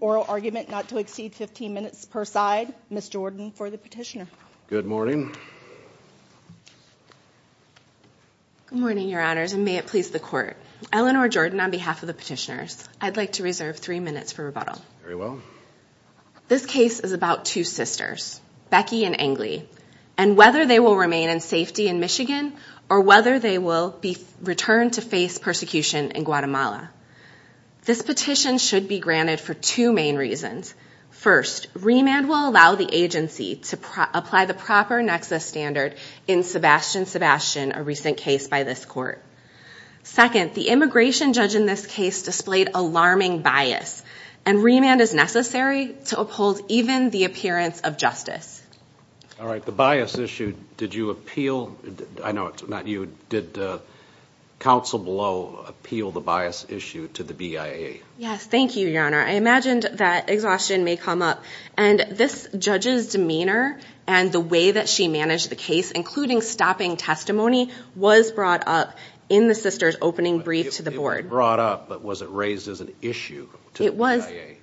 oral argument not to exceed 15 minutes per side. Ms. Jordan for the petitioner. Good morning. Good morning your honors and may it please the court. Eleanor Jordan on behalf of the petitioners. I'd like to reserve three minutes for rebuttal. Very well. This case is about two sisters Becky and whether they will remain in safety in Michigan or whether they will be returned to face persecution in Guatemala. This petition should be granted for two main reasons. First, remand will allow the agency to apply the proper nexus standard in Sebastian Sebastian, a recent case by this court. Second, the immigration judge in this case displayed alarming bias and remand is necessary to uphold even the appearance of justice. All right, the bias issue, did you appeal, I know it's not you, did counsel below appeal the bias issue to the BIA? Yes, thank you your honor. I imagined that exhaustion may come up and this judge's demeanor and the way that she managed the case, including stopping testimony, was brought up in the sisters opening brief to the board. It was brought up but was it raised as an issue to the BIA?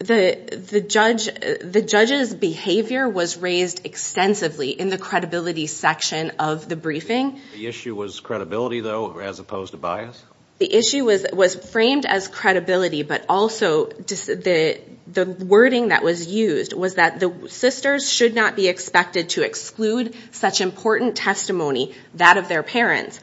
The judge's behavior was raised extensively in the credibility section of the briefing. The issue was credibility though as opposed to bias? The issue was framed as credibility but also the wording that was used was that the sisters should not be expected to exclude such important testimony, that of their parents,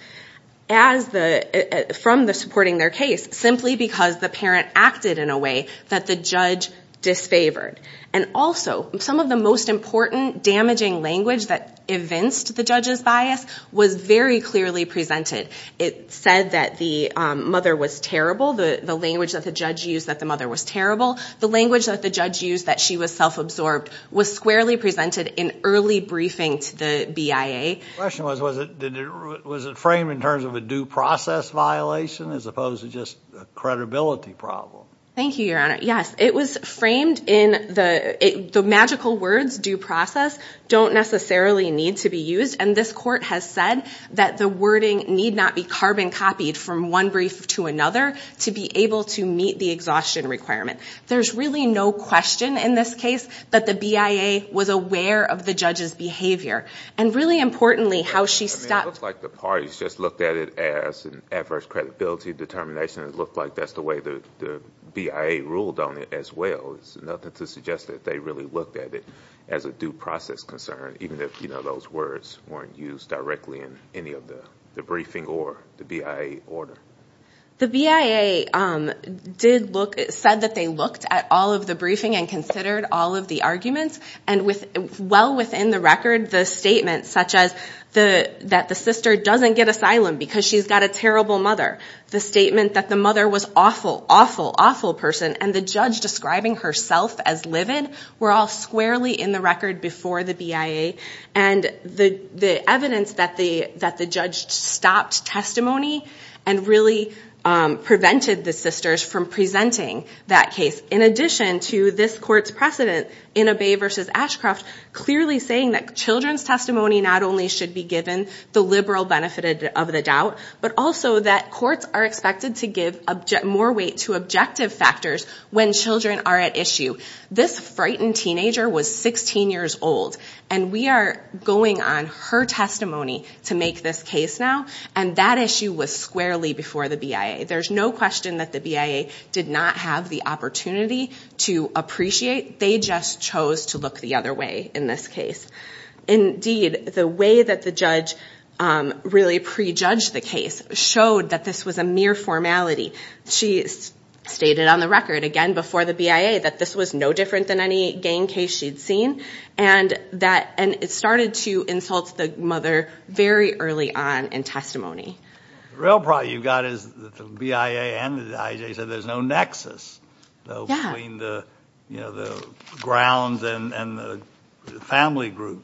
from supporting their case simply because the parent acted in a way that the judge disfavored. And also some of the most important damaging language that evinced the judge's bias was very clearly presented. It said that the mother was terrible, the language that the judge used that the mother was terrible, the language that the judge used that she was self-absorbed was squarely presented in early briefing to the BIA. The question was, was it framed in terms of a due process violation as opposed to just a credibility problem? Thank you, your honor. Yes, it was framed in the magical words due process don't necessarily need to be used and this court has said that the wording need not be carbon copied from one brief to another to be able to meet the exhaustion requirement. There's really no question in this case that the BIA was aware of the judge's behavior and really importantly how she stopped... It looks like the parties just looked at it as an adverse credibility determination. It looked like that's the way the BIA ruled on it as well. It's nothing to suggest that they really looked at it as a due process concern even if you know those words weren't used directly in any of the the briefing or the BIA order. The BIA did look... said that they looked at all of the briefing and considered all of the arguments and with well within the record the statements such as the that the sister doesn't get asylum because she's got a terrible mother, the statement that the mother was awful, awful, awful person and the judge describing herself as livid were all squarely in the record before the BIA and the evidence that the that the judge stopped testimony and really prevented the sisters from presenting that case in addition to this court's precedent in a Bay v. Ashcroft clearly saying that children's testimony not only should be given the liberal benefit of the doubt but also that courts are expected to give more weight to objective factors when children are at issue. This frightened teenager was 16 years old and we are going on her testimony to make this case now and that issue was squarely before the BIA. There's no question that the BIA did not have the opportunity to appreciate. They just chose to look the other way in this case. Indeed the way that the judge really prejudged the case showed that this was a mere formality. She stated on the record again before the BIA that this was no different than any gang case she'd seen and it started to insult the mother very early on in testimony. The real problem you've got is that the BIA and the IJ said there's no nexus between the grounds and the family group.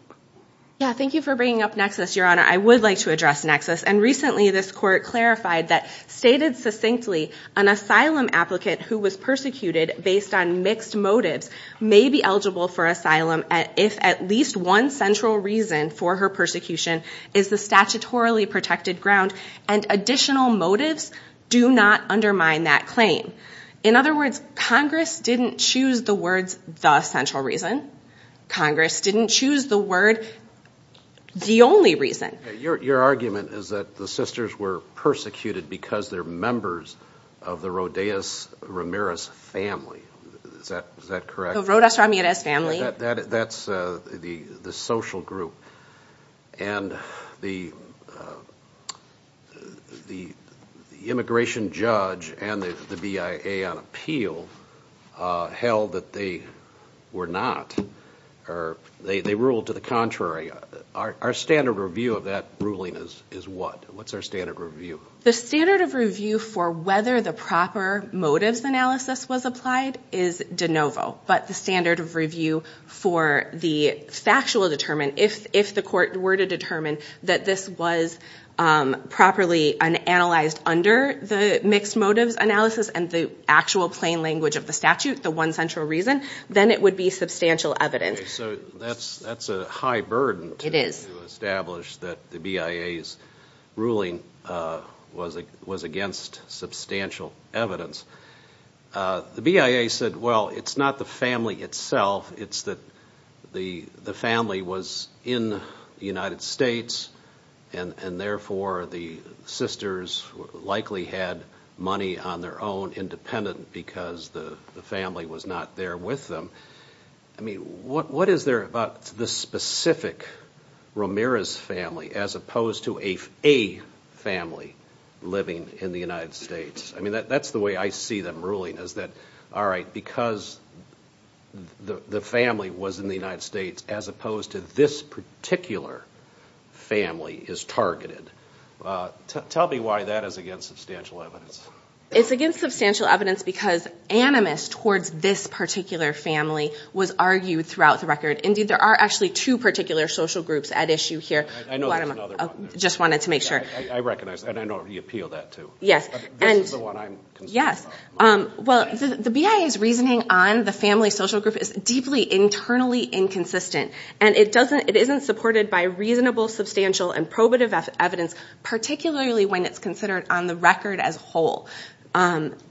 Thank you for bringing up nexus your honor. I would like to address nexus and recently this court clarified that stated succinctly an asylum applicant who was persecuted based on mixed motives may be eligible for asylum if at least one central reason for her persecution is the statutorily protected ground and additional motives do not undermine that claim. In other words Congress didn't choose the words the central reason. Congress didn't choose the word the only reason. Your argument is that the sisters were persecuted because they're members of the Rodas Ramirez family. Is that correct? The Rodas Ramirez family. That's the social group and the immigration judge and the BIA on appeal held that they were not or they ruled to the contrary. Our standard review of that ruling is what? What's our standard review? The standard of review for whether the proper motives analysis was applied is de novo but the standard of review for the factual determined if the court were to determine that this was properly analyzed under the mixed motives analysis and the actual plain language of the statute the one central reason then it would be substantial evidence. So that's a high burden to establish that the BIA's ruling was against substantial evidence. The BIA said well it's not the family itself it's that the the family was in the United States and and therefore the sisters likely had money on their own independent because the the family was not there with them. I mean what what is there about the specific Ramirez family as opposed to a family living in the United States? I mean that that's the way I see them ruling is that all right because the family was in the United States as opposed to this particular family is targeted. Tell me why that is against substantial evidence. It's against substantial evidence because animus towards this particular family was argued throughout the record. Indeed there are actually two particular social groups at issue here. I just wanted to make sure. The BIA's reasoning on the family social group is deeply internally inconsistent and it doesn't it isn't supported by reasonable substantial and probative evidence particularly when it's considered on the record as whole.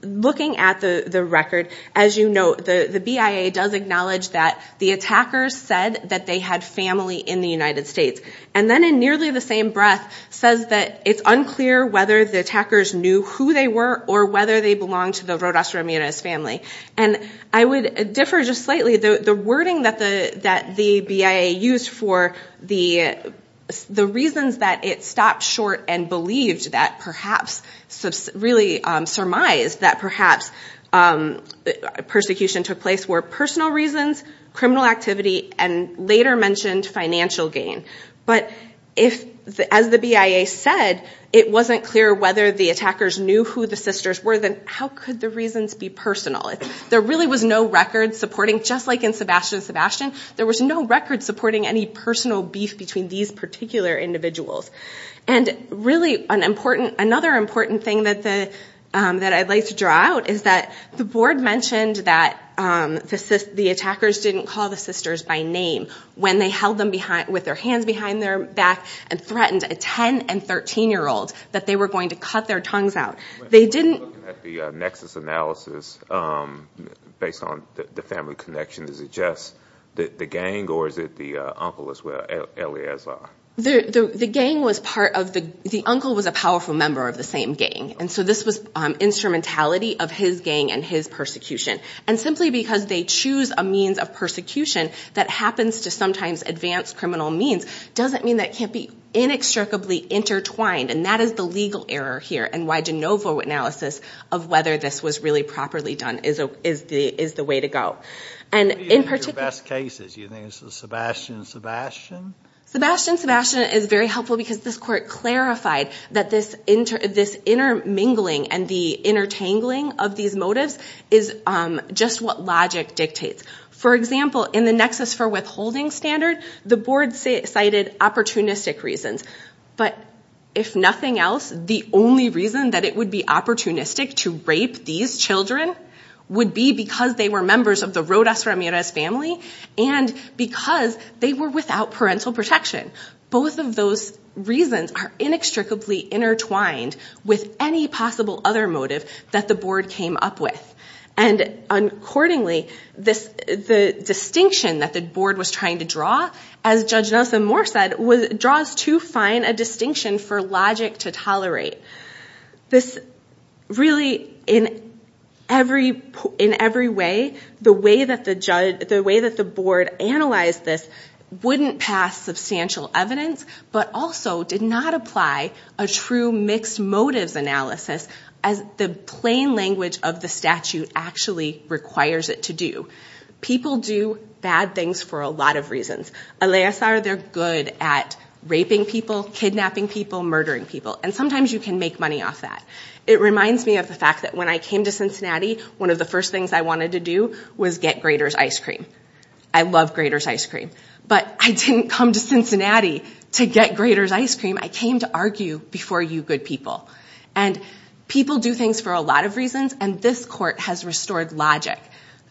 Looking at the the record as you know the the BIA does acknowledge that the attackers said that they had family in the United States and then in nearly the same breath says that it's unclear whether the attackers knew who they were or whether they belonged to the Rodas Ramirez family. And I would differ just slightly though the wording that the that the BIA used for the the reasons that it stopped short and believed that perhaps really surmised that perhaps persecution took place were personal reasons, criminal activity and later mentioned financial gain. But if as the BIA said it wasn't clear whether the attackers knew who the sisters were then how could the reasons be personal? There really was no record supporting just like in Sebastian Sebastian there was no record supporting any personal beef between these particular individuals. And really an important another important thing that the that I'd like to draw out is that the board mentioned that the attackers didn't call the sisters by name when they held them behind with their hands behind their back and threatened a 10 and 13 year old that they were going to cut their tongues out. They didn't. The nexus analysis based on the family connection is it just that the gang or is it the uncle as well? The gang was part of the the uncle was a powerful member of the same gang and so this was instrumentality of his gang and his persecution. And simply because they choose a means of persecution that happens to sometimes advance criminal means doesn't mean that can't be inextricably intertwined and that is the legal error here and why de novo analysis of whether this was really properly done is the is the way to go. And in particular... What are your best cases? You think it's Sebastian Sebastian? Sebastian Sebastian is very helpful because this court clarified that this intermingling and the intertangling of these motives is just what logic dictates. For example in the nexus for withholding standard the board cited opportunistic reasons but if nothing else the only reason that it would be opportunistic to rape these children would be because they were members of the Rodas Ramirez family and because they were without parental protection. Both of those reasons are inextricably intertwined with any possible other motive that the board came up with. And accordingly the distinction that the board was trying to draw as Judge Nelson-Moore said was draws to find a distinction for logic to tolerate. This really in every in every way the way that the judge the way that the board analyzed this wouldn't pass substantial evidence but also did not apply a true mixed motives analysis as the plain language of the statute actually requires it to do. People do bad things for a lot of reasons. Alias are they're good at raping people, kidnapping people, murdering people and sometimes you can make money off that. It reminds me of the fact that when I came to Cincinnati one of the first things I wanted to do was get Grader's ice cream. I love Grader's ice cream but I didn't come to Cincinnati to get ice cream. I came to argue before you good people and people do things for a lot of reasons and this court has restored logic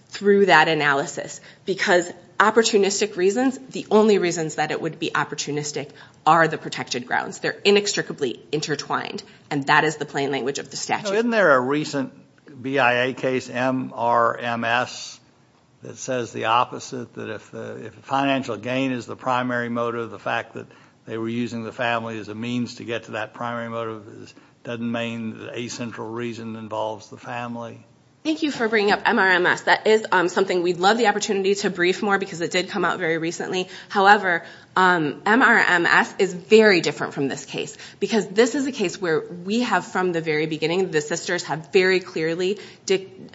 through that analysis because opportunistic reasons the only reasons that it would be opportunistic are the protected grounds. They're inextricably intertwined and that is the plain language of the statute. Isn't there a recent BIA case MRMS that says the opposite that if the financial gain is the primary motive the fact that they were using the family as a means to get to that primary motive doesn't mean a central reason involves the family? Thank you for bringing up MRMS. That is something we'd love the opportunity to brief more because it did come out very recently. However, MRMS is very different from this case because this is a case where we have from the very beginning the sisters have very clearly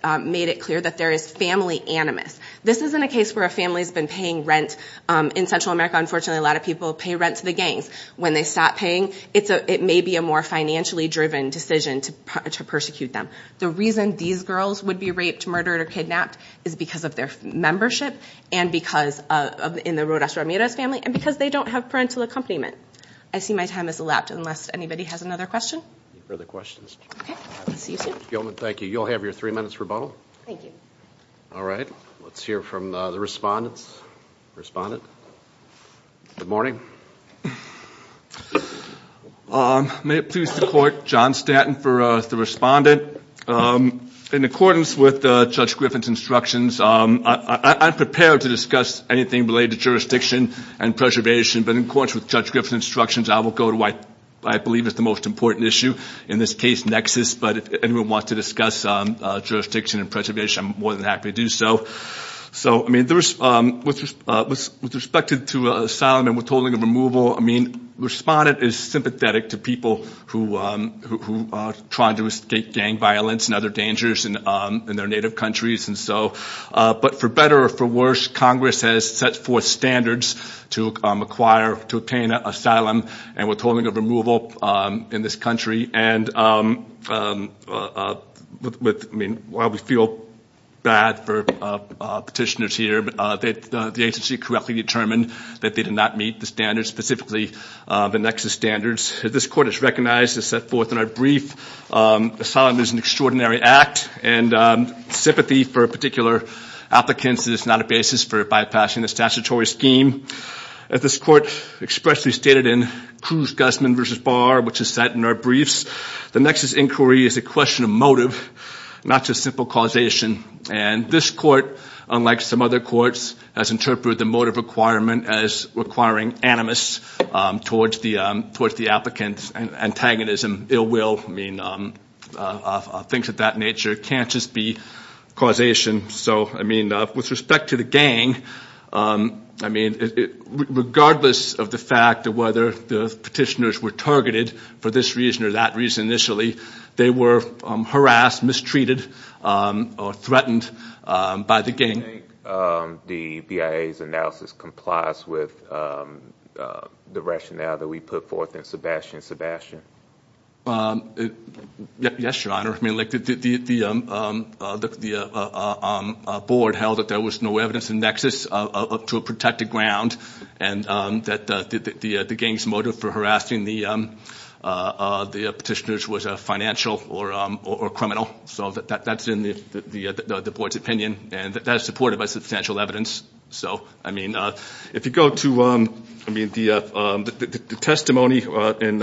made it clear that there is family animus. This isn't a case where a family's been paying rent in Central America. Unfortunately a lot of people pay rent to the gangs. When they stop paying it's a it may be a more financially driven decision to persecute them. The reason these girls would be raped, murdered, or kidnapped is because of their membership and because of in the Rodas-Ramirez family and because they don't have parental accompaniment. I see my time has elapsed unless anybody has another question or the questions. Thank you. You'll have your three minutes rebuttal. Thank you. All right let's hear from the respondents. Respondent? Good morning. May it please the court, John Stanton for the respondent. In accordance with Judge Griffin's instructions, I'm prepared to discuss anything related to jurisdiction and preservation, but in accordance with Judge Griffin's instructions, I will go to what I believe is the most important issue, in this case nexus, but if anyone wants to discuss jurisdiction and preservation, I'm more than happy to do so. With respect to asylum and withholding of removal, I mean respondent is sympathetic to people who are trying to escape gang violence and other dangers in their native countries and so but for better or for worse, Congress has set forth standards to acquire, to obtain asylum and withholding of removal in this country and with I mean while we feel bad for petitioners here, that the agency correctly determined that they did not meet the standards, specifically the nexus standards. This court has recognized and set forth in our brief asylum is an extraordinary act and sympathy for a particular applicants is not a basis for bypassing the statutory scheme. As this court expressly stated in Cruz-Guzman v. Barr, which is set in our briefs, the nexus inquiry is a question of motive, not just simple causation and this court, unlike some other courts, has interpreted the motive requirement as requiring animus towards the applicants and antagonism, ill will, I mean things of that nature can't just be causation. So I mean with respect to the gang, I mean regardless of the fact of whether the petitioners were targeted for this reason or that reason initially, they were harassed, mistreated or threatened by the gang. Do you think the BIA's analysis complies with the rationale that we put forth in Sebastian and Sebastian? Yes, your honor. I mean like the board held that there was no evidence in nexus to a protected ground and that the gang's motive for harassing the petitioners was a financial or criminal. So that's in the board's opinion and that is supported by substantial evidence. So I mean if you go to the testimony in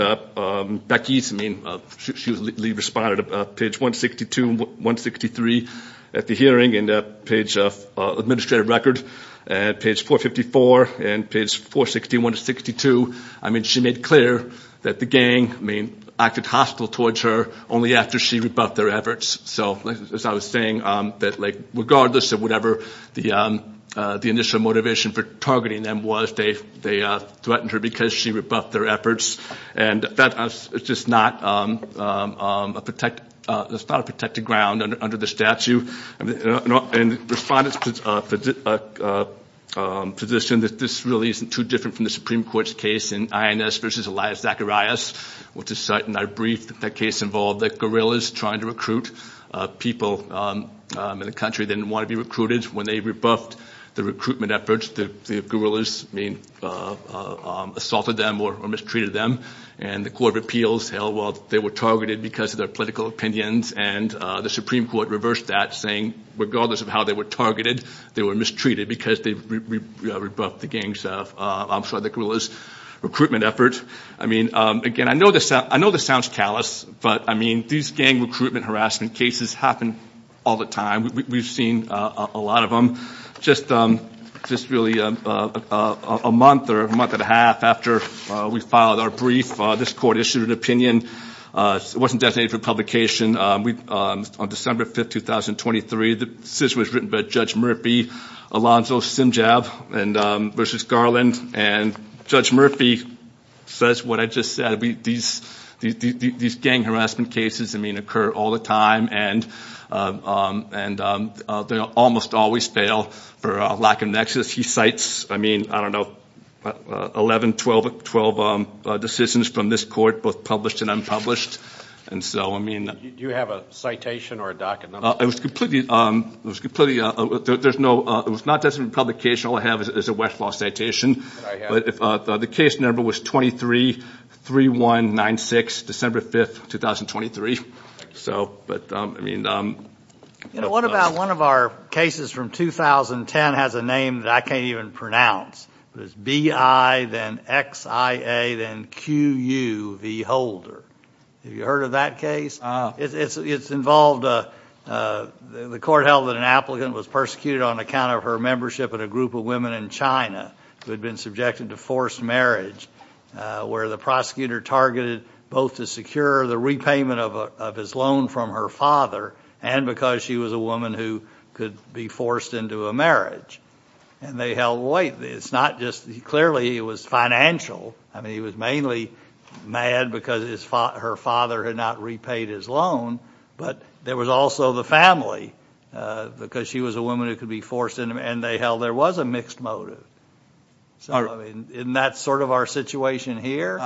Becky's, I mean she was responded to page 162, 163 at the page 454 and page 461 to 62, I mean she made clear that the gang acted hostile towards her only after she rebuffed their efforts. So as I was saying that like regardless of whatever the initial motivation for targeting them was, they threatened her because she rebuffed their efforts and that is just not a protected ground under the statute. Respondents position that this really isn't too different from the Supreme Court's case in INS versus Elias Zacharias, which is certain I briefed that case involved that guerrillas trying to recruit people in the country didn't want to be recruited. When they rebuffed the recruitment efforts, the guerrillas mean assaulted them or mistreated them and the court of appeals held well they were targeted because of their political opinions and the Supreme Court reversed that saying regardless of how they were targeted, they were mistreated because they rebuffed the gang's, I'm sorry, the guerrillas' recruitment effort. I mean again I know this I know this sounds callous but I mean these gang recruitment harassment cases happen all the time. We've seen a lot of them just just really a month or a month and a half after we filed our brief, this court issued an opinion. It wasn't designated for publication. On December 5th, 2023, the decision was written by Judge Murphy, Alonzo Simjab and versus Garland and Judge Murphy says what I just said these these gang harassment cases I mean occur all the time and and they almost always fail for lack of nexus. He cites I mean I don't know 11, 12, 12 decisions from this court both published and unpublished and so I mean. Do you have a citation or a document? It was completely, it was completely, there's no, it was not designated for publication. All I have is a Westlaw citation but the case number was 23-3196, December 5th, 2023. So but I mean. You know what about one of our cases from 2010 has a name that I can't even pronounce. It's B-I then X-I-A then Q-U-V Holder. Have you heard of that case? It's involved, the court held that an applicant was persecuted on account of her membership in a group of women in China who had been subjected to forced marriage where the prosecutor targeted both to secure the repayment of his loan from her father and because she was a woman who could be forced into a marriage and they held weight. It's not just, clearly it was financial. I mean he was mainly mad because his father, her father had not repaid his loan but there was also the family because she was a woman who could be forced in and they held there was a mixed motive. So I mean isn't that sort of our situation here?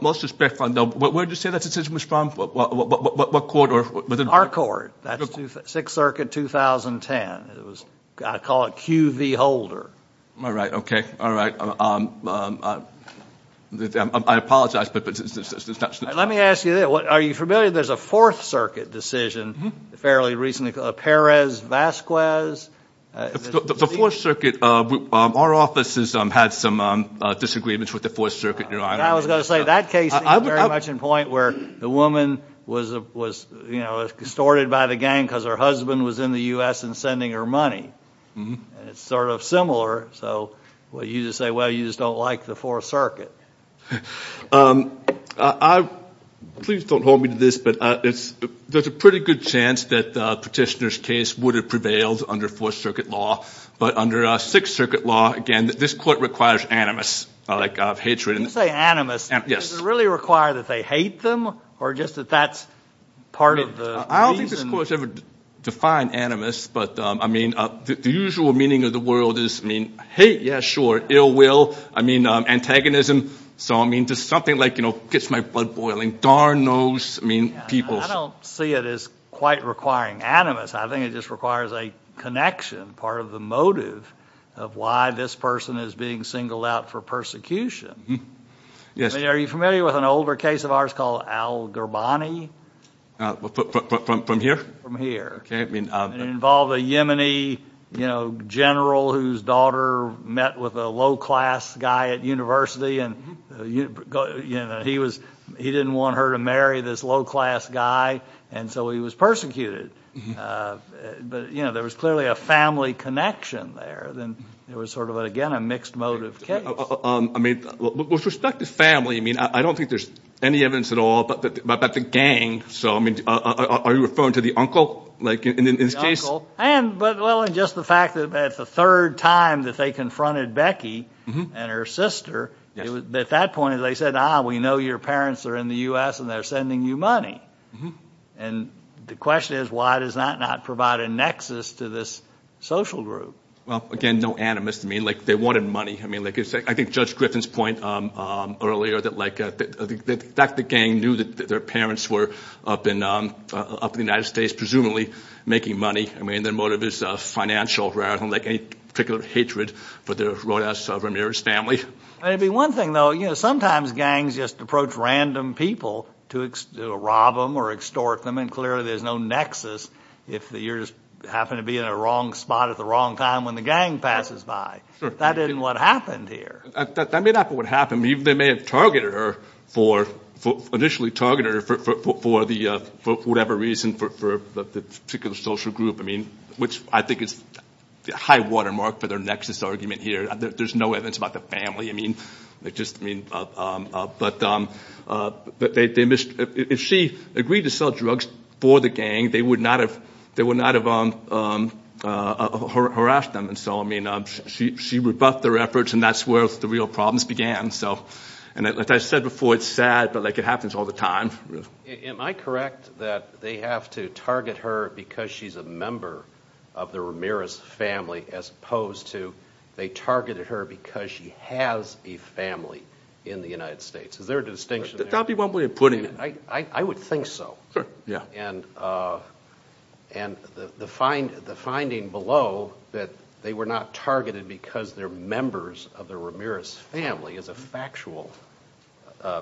Most respectfully, where did you say that was from? What court? Our court. That's Sixth Circuit 2010. It was, I call it Q-V Holder. All right, okay, all right. I apologize. Let me ask you this, are you familiar there's a Fourth Circuit decision fairly recently, Perez-Vasquez? The Fourth Circuit, our offices had some disagreements with the Fourth Circuit. The woman was, you know, distorted by the gang because her husband was in the U.S. and sending her money. It's sort of similar, so what you just say, well you just don't like the Fourth Circuit. Please don't hold me to this, but it's there's a pretty good chance that the petitioner's case would have prevailed under Fourth Circuit law, but under Sixth Circuit law, again, this court requires animus, like hatred. You say animus, does it really require that they hate them or just that that's part of the reason? I don't think this court has ever defined animus, but I mean the usual meaning of the world is, I mean, hate, yeah, sure, ill will, I mean antagonism, so I mean just something like, you know, gets my blood boiling, darn those, I mean, people. I don't see it as quite requiring animus. I think it just requires a connection, part of the motive of why this person is being singled out for persecution. Yes. Are you familiar with an older case of ours called Al-Gurbani? From here? From here. Okay. It involved a Yemeni, you know, general whose daughter met with a low-class guy at university, and he was, he didn't want her to marry this low-class guy, and so he was persecuted, but, you know, there was clearly a family connection there, then there was sort of, again, a mixed motive case. I mean, with respect to family, I mean, I don't think there's any evidence at all about the gang, so I mean, are you referring to the uncle, like, in this case? The uncle, and, well, just the fact that at the third time that they confronted Becky and her sister, at that point they said, ah, we know your parents are in the U.S. and they're sending you money, and the question is why does that not provide a I mean, like, I think Judge Griffin's point earlier that, like, that the gang knew that their parents were up in the United States, presumably making money. I mean, their motive is financial rather than, like, any particular hatred for the Rodas Ramirez family. Maybe one thing, though, you know, sometimes gangs just approach random people to rob them or extort them, and clearly there's no nexus if you just happen to be in a wrong spot at the wrong time when the gang passes by. That isn't what happened here. That may not be what happened. They may have targeted her for, initially targeted her for the, for whatever reason, for the particular social group, I mean, which I think is a high watermark for their nexus argument here. There's no evidence about the family, I mean, they just, I mean, but they missed, if she agreed to sell drugs for the gang, they would not have, they would not have harassed them. And so, I mean, she rebuffed their efforts and that's where the real problems began. So, and like I said before, it's sad, but, like, it happens all the time. Am I correct that they have to target her because she's a member of the Ramirez family, as opposed to they targeted her because she has a family in the United States? Is there a distinction? That would be one way of putting it. I would think so. Sure, yeah. And, and the find, the finding below that they were not targeted because they're members of the Ramirez family is a factual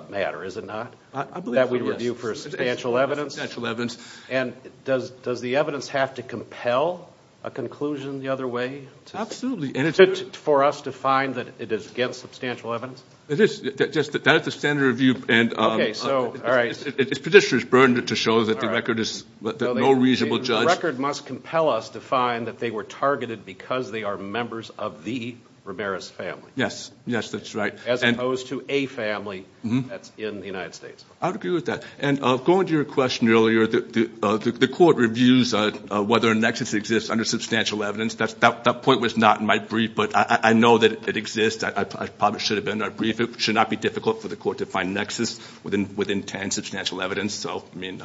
matter, is it not? I believe it is. That we review for substantial evidence? Substantial evidence. And does, does the evidence have to compel a conclusion the other way? Absolutely, and it's... For us to find that it is against substantial evidence? It is, that's the standard review, and... Okay, so, all right. It's petitioner's burden to show that the record is... No reasonable judge... The record must compel us to find that they were targeted because they are members of the Ramirez family. Yes, yes, that's right. As opposed to a family that's in the United States. I would agree with that. And going to your question earlier, the court reviews whether a nexus exists under substantial evidence. That's, that point was not in my brief, but I know that it exists. I probably should have been in our brief. It should not be difficult for the court to find nexus within 10 substantial evidence. So, I mean...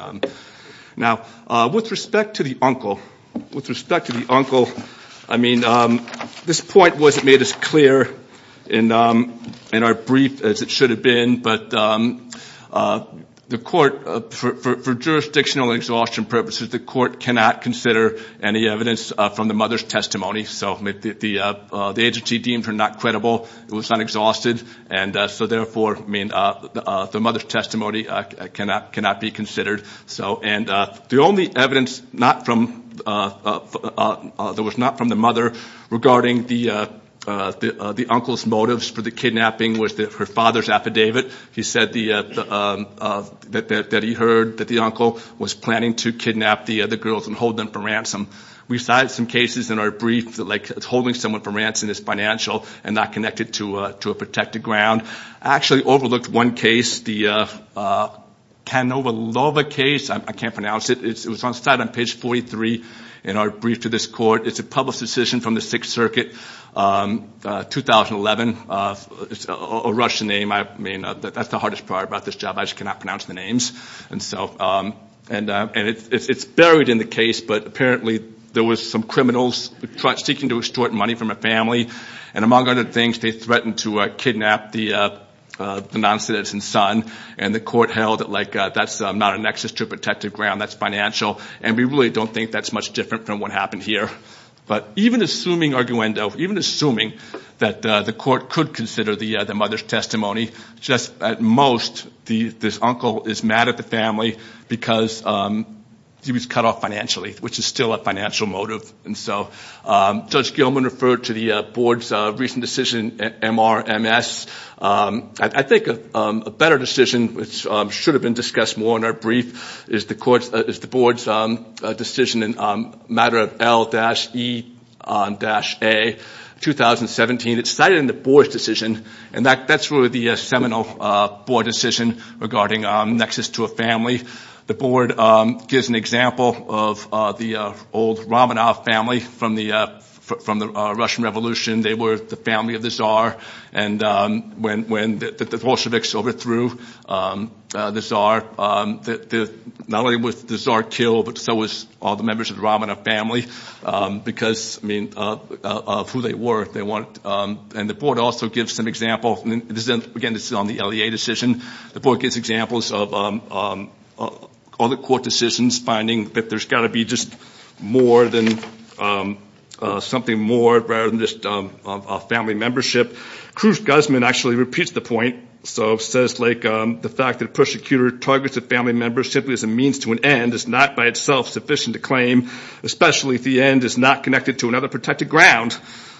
Now, with respect to the uncle, with respect to the uncle, I mean, this point wasn't made as clear in our brief as it should have been, but the court, for jurisdictional exhaustion purposes, the court cannot consider any evidence from the mother's testimony. So the agency deemed her not credible, it was not exhausted, and so therefore, I mean, the mother's testimony cannot be considered. So, and the only evidence not from... That was not from the mother regarding the uncle's motives for the kidnapping was her father's affidavit. He said that he heard that the uncle was planning to kidnap the other girls and hold them for ransom. We cited some cases in our brief that, like, holding someone for ransom is financial and not connected to a protected ground. I actually overlooked one case, the Kanovalova case. I can't pronounce it. It was on site on page 43 in our brief to this court. It's a public decision from the Sixth Circuit, 2011. It's a Russian name. I mean, that's the hardest part about this job. I just cannot pronounce the names. And so, and it's buried in the case, but apparently there was some criminals seeking to extort money from a family, and among other things, they threatened to kidnap the non-citizen's son, and the court held that, like, that's not a nexus to a protected ground. That's financial, and we really don't think that's much different from what happened here. But even assuming, arguendo, even assuming that the court could consider the mother's testimony, just at most, this uncle is mad at the family because he was cut off financially, which is still a financial motive. And so, Judge Gilman referred to the board's recent decision, MRMS. I think a better decision, which should have been discussed more in our brief, is the board's decision in a matter of L-E-A, 2017. It's cited in the board's decision, and that's really the seminal board decision regarding nexus to a family. The board gives an example of the old Romanov family from the Russian Revolution. They were the family of the Tsar, and when the Bolsheviks overthrew the Tsar, not only was the Tsar killed, but so was all the members of the Romanov family, because, I mean, of who they were, they weren't. And the board also gives some example, and this is, again, this is on the L-E-A decision. The board gives examples of other court decisions, finding that there's got to be just more than, something more, rather than just a family membership. Cruz Guzman actually repeats the point, so says, like, the fact that a persecutor targets a family member simply as a means to an end is not by itself sufficient to claim, especially if the end is not connected to another protected ground.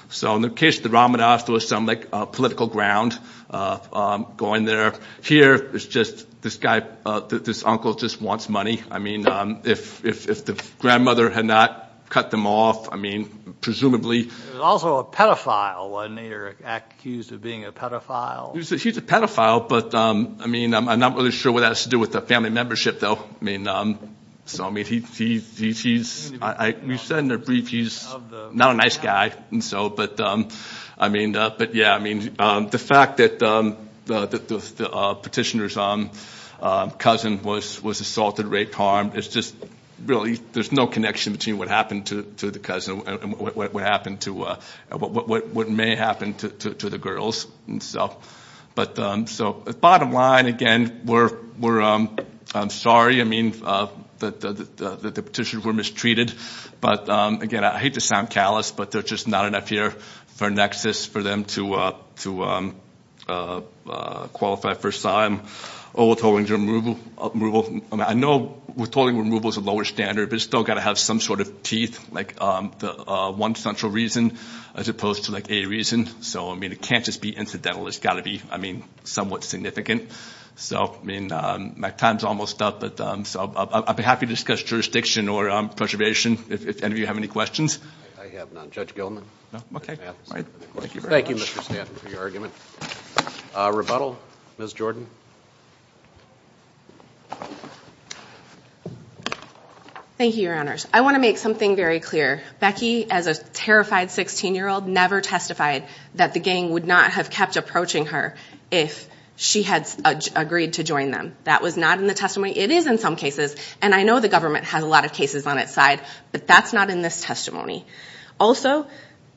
So in the case of the Romanovs, there was some, like, political ground going there. Here, it's just this guy, this uncle, just wants money. I mean, if the grandmother had not cut them off, I mean, presumably. There's also a pedophile, and they're accused of being a pedophile. He's a pedophile, but, I mean, I'm not really sure what that has to do with the family membership, though. I mean, so, I mean, he's, we've said in the brief, he's not a nice guy, and so, but, I mean, but, yeah, I mean, the fact that the petitioner's cousin was assaulted, raped, harmed, it's just really, there's no connection between what happened to the cousin and what happened to, what may happen to the girls, and so, but, so bottom line, again, we're, I'm sorry, I mean, that the petitioners were mistreated, but, again, I hate to sound callous, but there's just not enough here for Nexus for them to qualify first time. Oval tolling removal, I mean, I know oval tolling removal is a lower standard, but it's still got to have some sort of teeth, like the one central reason, as opposed to, like, a reason, so, I mean, it can't just be incidental. It's got to be, I mean, somewhat significant, so, I mean, my time's almost up, but, so I'd be happy to discuss jurisdiction or preservation if any of you have any questions. Thank you, Mr. Stanton, for your argument. Rebuttal, Ms. Jordan. Thank you, Your Honors. I want to make something very clear. Becky, as a terrified 16-year-old, never testified that the gang would not have kept approaching her if she had agreed to join them. That was not in the testimony. It is in some cases, and I know the government has a lot of cases on its side, but that's not in this testimony. Also,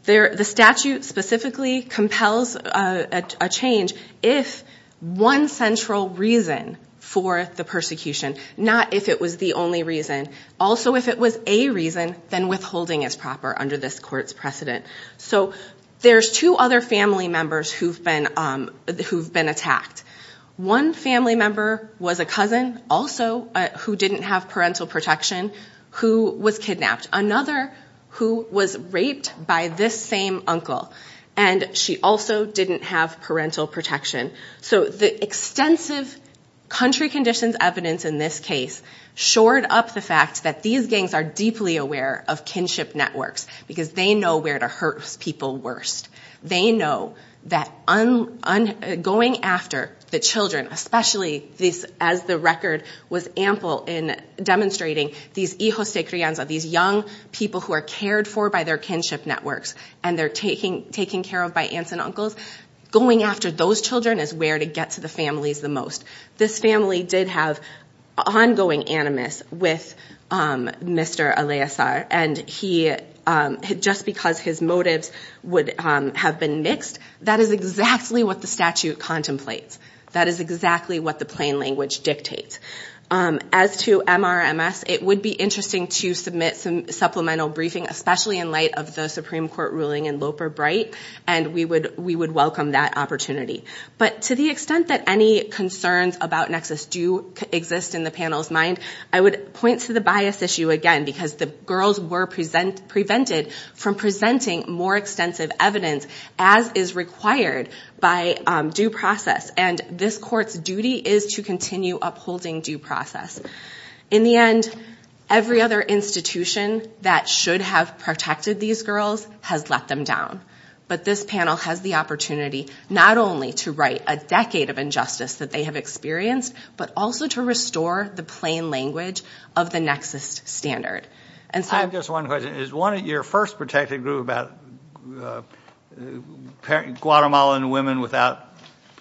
the statute specifically compels a change if one central reason for the persecution, not if it was the only reason. Also, if it was a reason, then withholding is proper under this court's precedent. So, there's two other family members who've been attacked. One family member was a cousin, also, who didn't have parental protection, who was kidnapped. Another who was raped by this same uncle, and she also didn't have parental protection. So, the extensive country conditions evidence in this case shored up the fact that these gangs are deeply aware of kinship networks, because they know where to hurt people worst. They know that going after the children, especially as the record was ample in demonstrating these hijos de crianza, these young people who are cared for by their kinship networks, and they're taken care of by aunts and uncles, going after those children is where to get to the families the most. This family did have ongoing animus with Mr. Aleazar, and just because his motives would have been mixed, that is exactly what the statute contemplates. That is exactly what the plain language dictates. As to MRMS, it would be interesting to submit some supplemental briefing, especially in light of the Supreme Court ruling in Loper-Bright, and we would welcome that opportunity. But to the extent that any concerns about nexus do exist in the panel's mind, I would point to the bias issue again, because the girls were prevented from presenting more extensive evidence, as is required by due process, and this court's duty is to continue upholding due process. In the end, every other institution that should have protected these girls has let them down. But this panel has the opportunity, not only to right a decade of injustice that they have experienced, but also to restore the plain language of the nexus standard. I have just one question. Is one of your first protected group about Guatemalan women without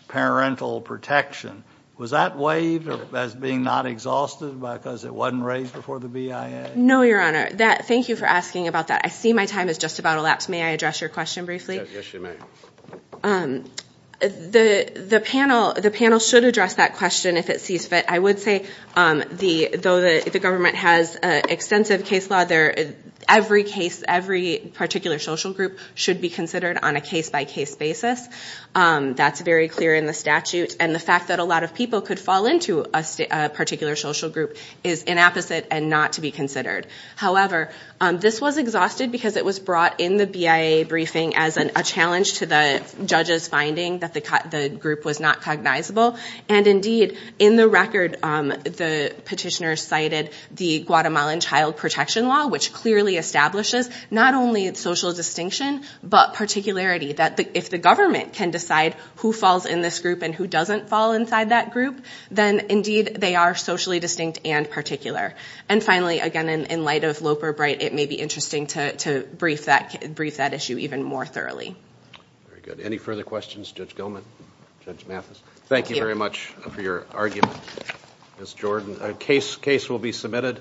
parental protection, was that waived as being not exhausted because it wasn't raised before the BIA? No, Your Honor. Thank you for asking about that. I see my time is just about elapsed. May I address your question briefly? Yes, you may. The panel should address that question if it sees fit. I would say, though the government has extensive case law, every particular social group should be considered on a case-by-case basis. That's very clear in the statute, and the fact that a lot of people could fall into a particular social group is inapposite and not to be considered. However, this was exhausted because it was brought in the BIA briefing as a challenge to the judges finding that the group was not cognizable, and indeed, in the record, the petitioner cited the Guatemalan Child Protection Law, which clearly establishes not only social distinction, but particularity, that if the government can decide who falls in this group and who doesn't fall inside that group, then indeed, they are socially distinct and particular. And finally, again, in light of Loper-Bright, it may be interesting to brief that issue even more thoroughly. Very good. Any further questions? Judge Gilman? Judge Mathis? Thank you very much for your argument, Ms. Jordan. A case will be submitted.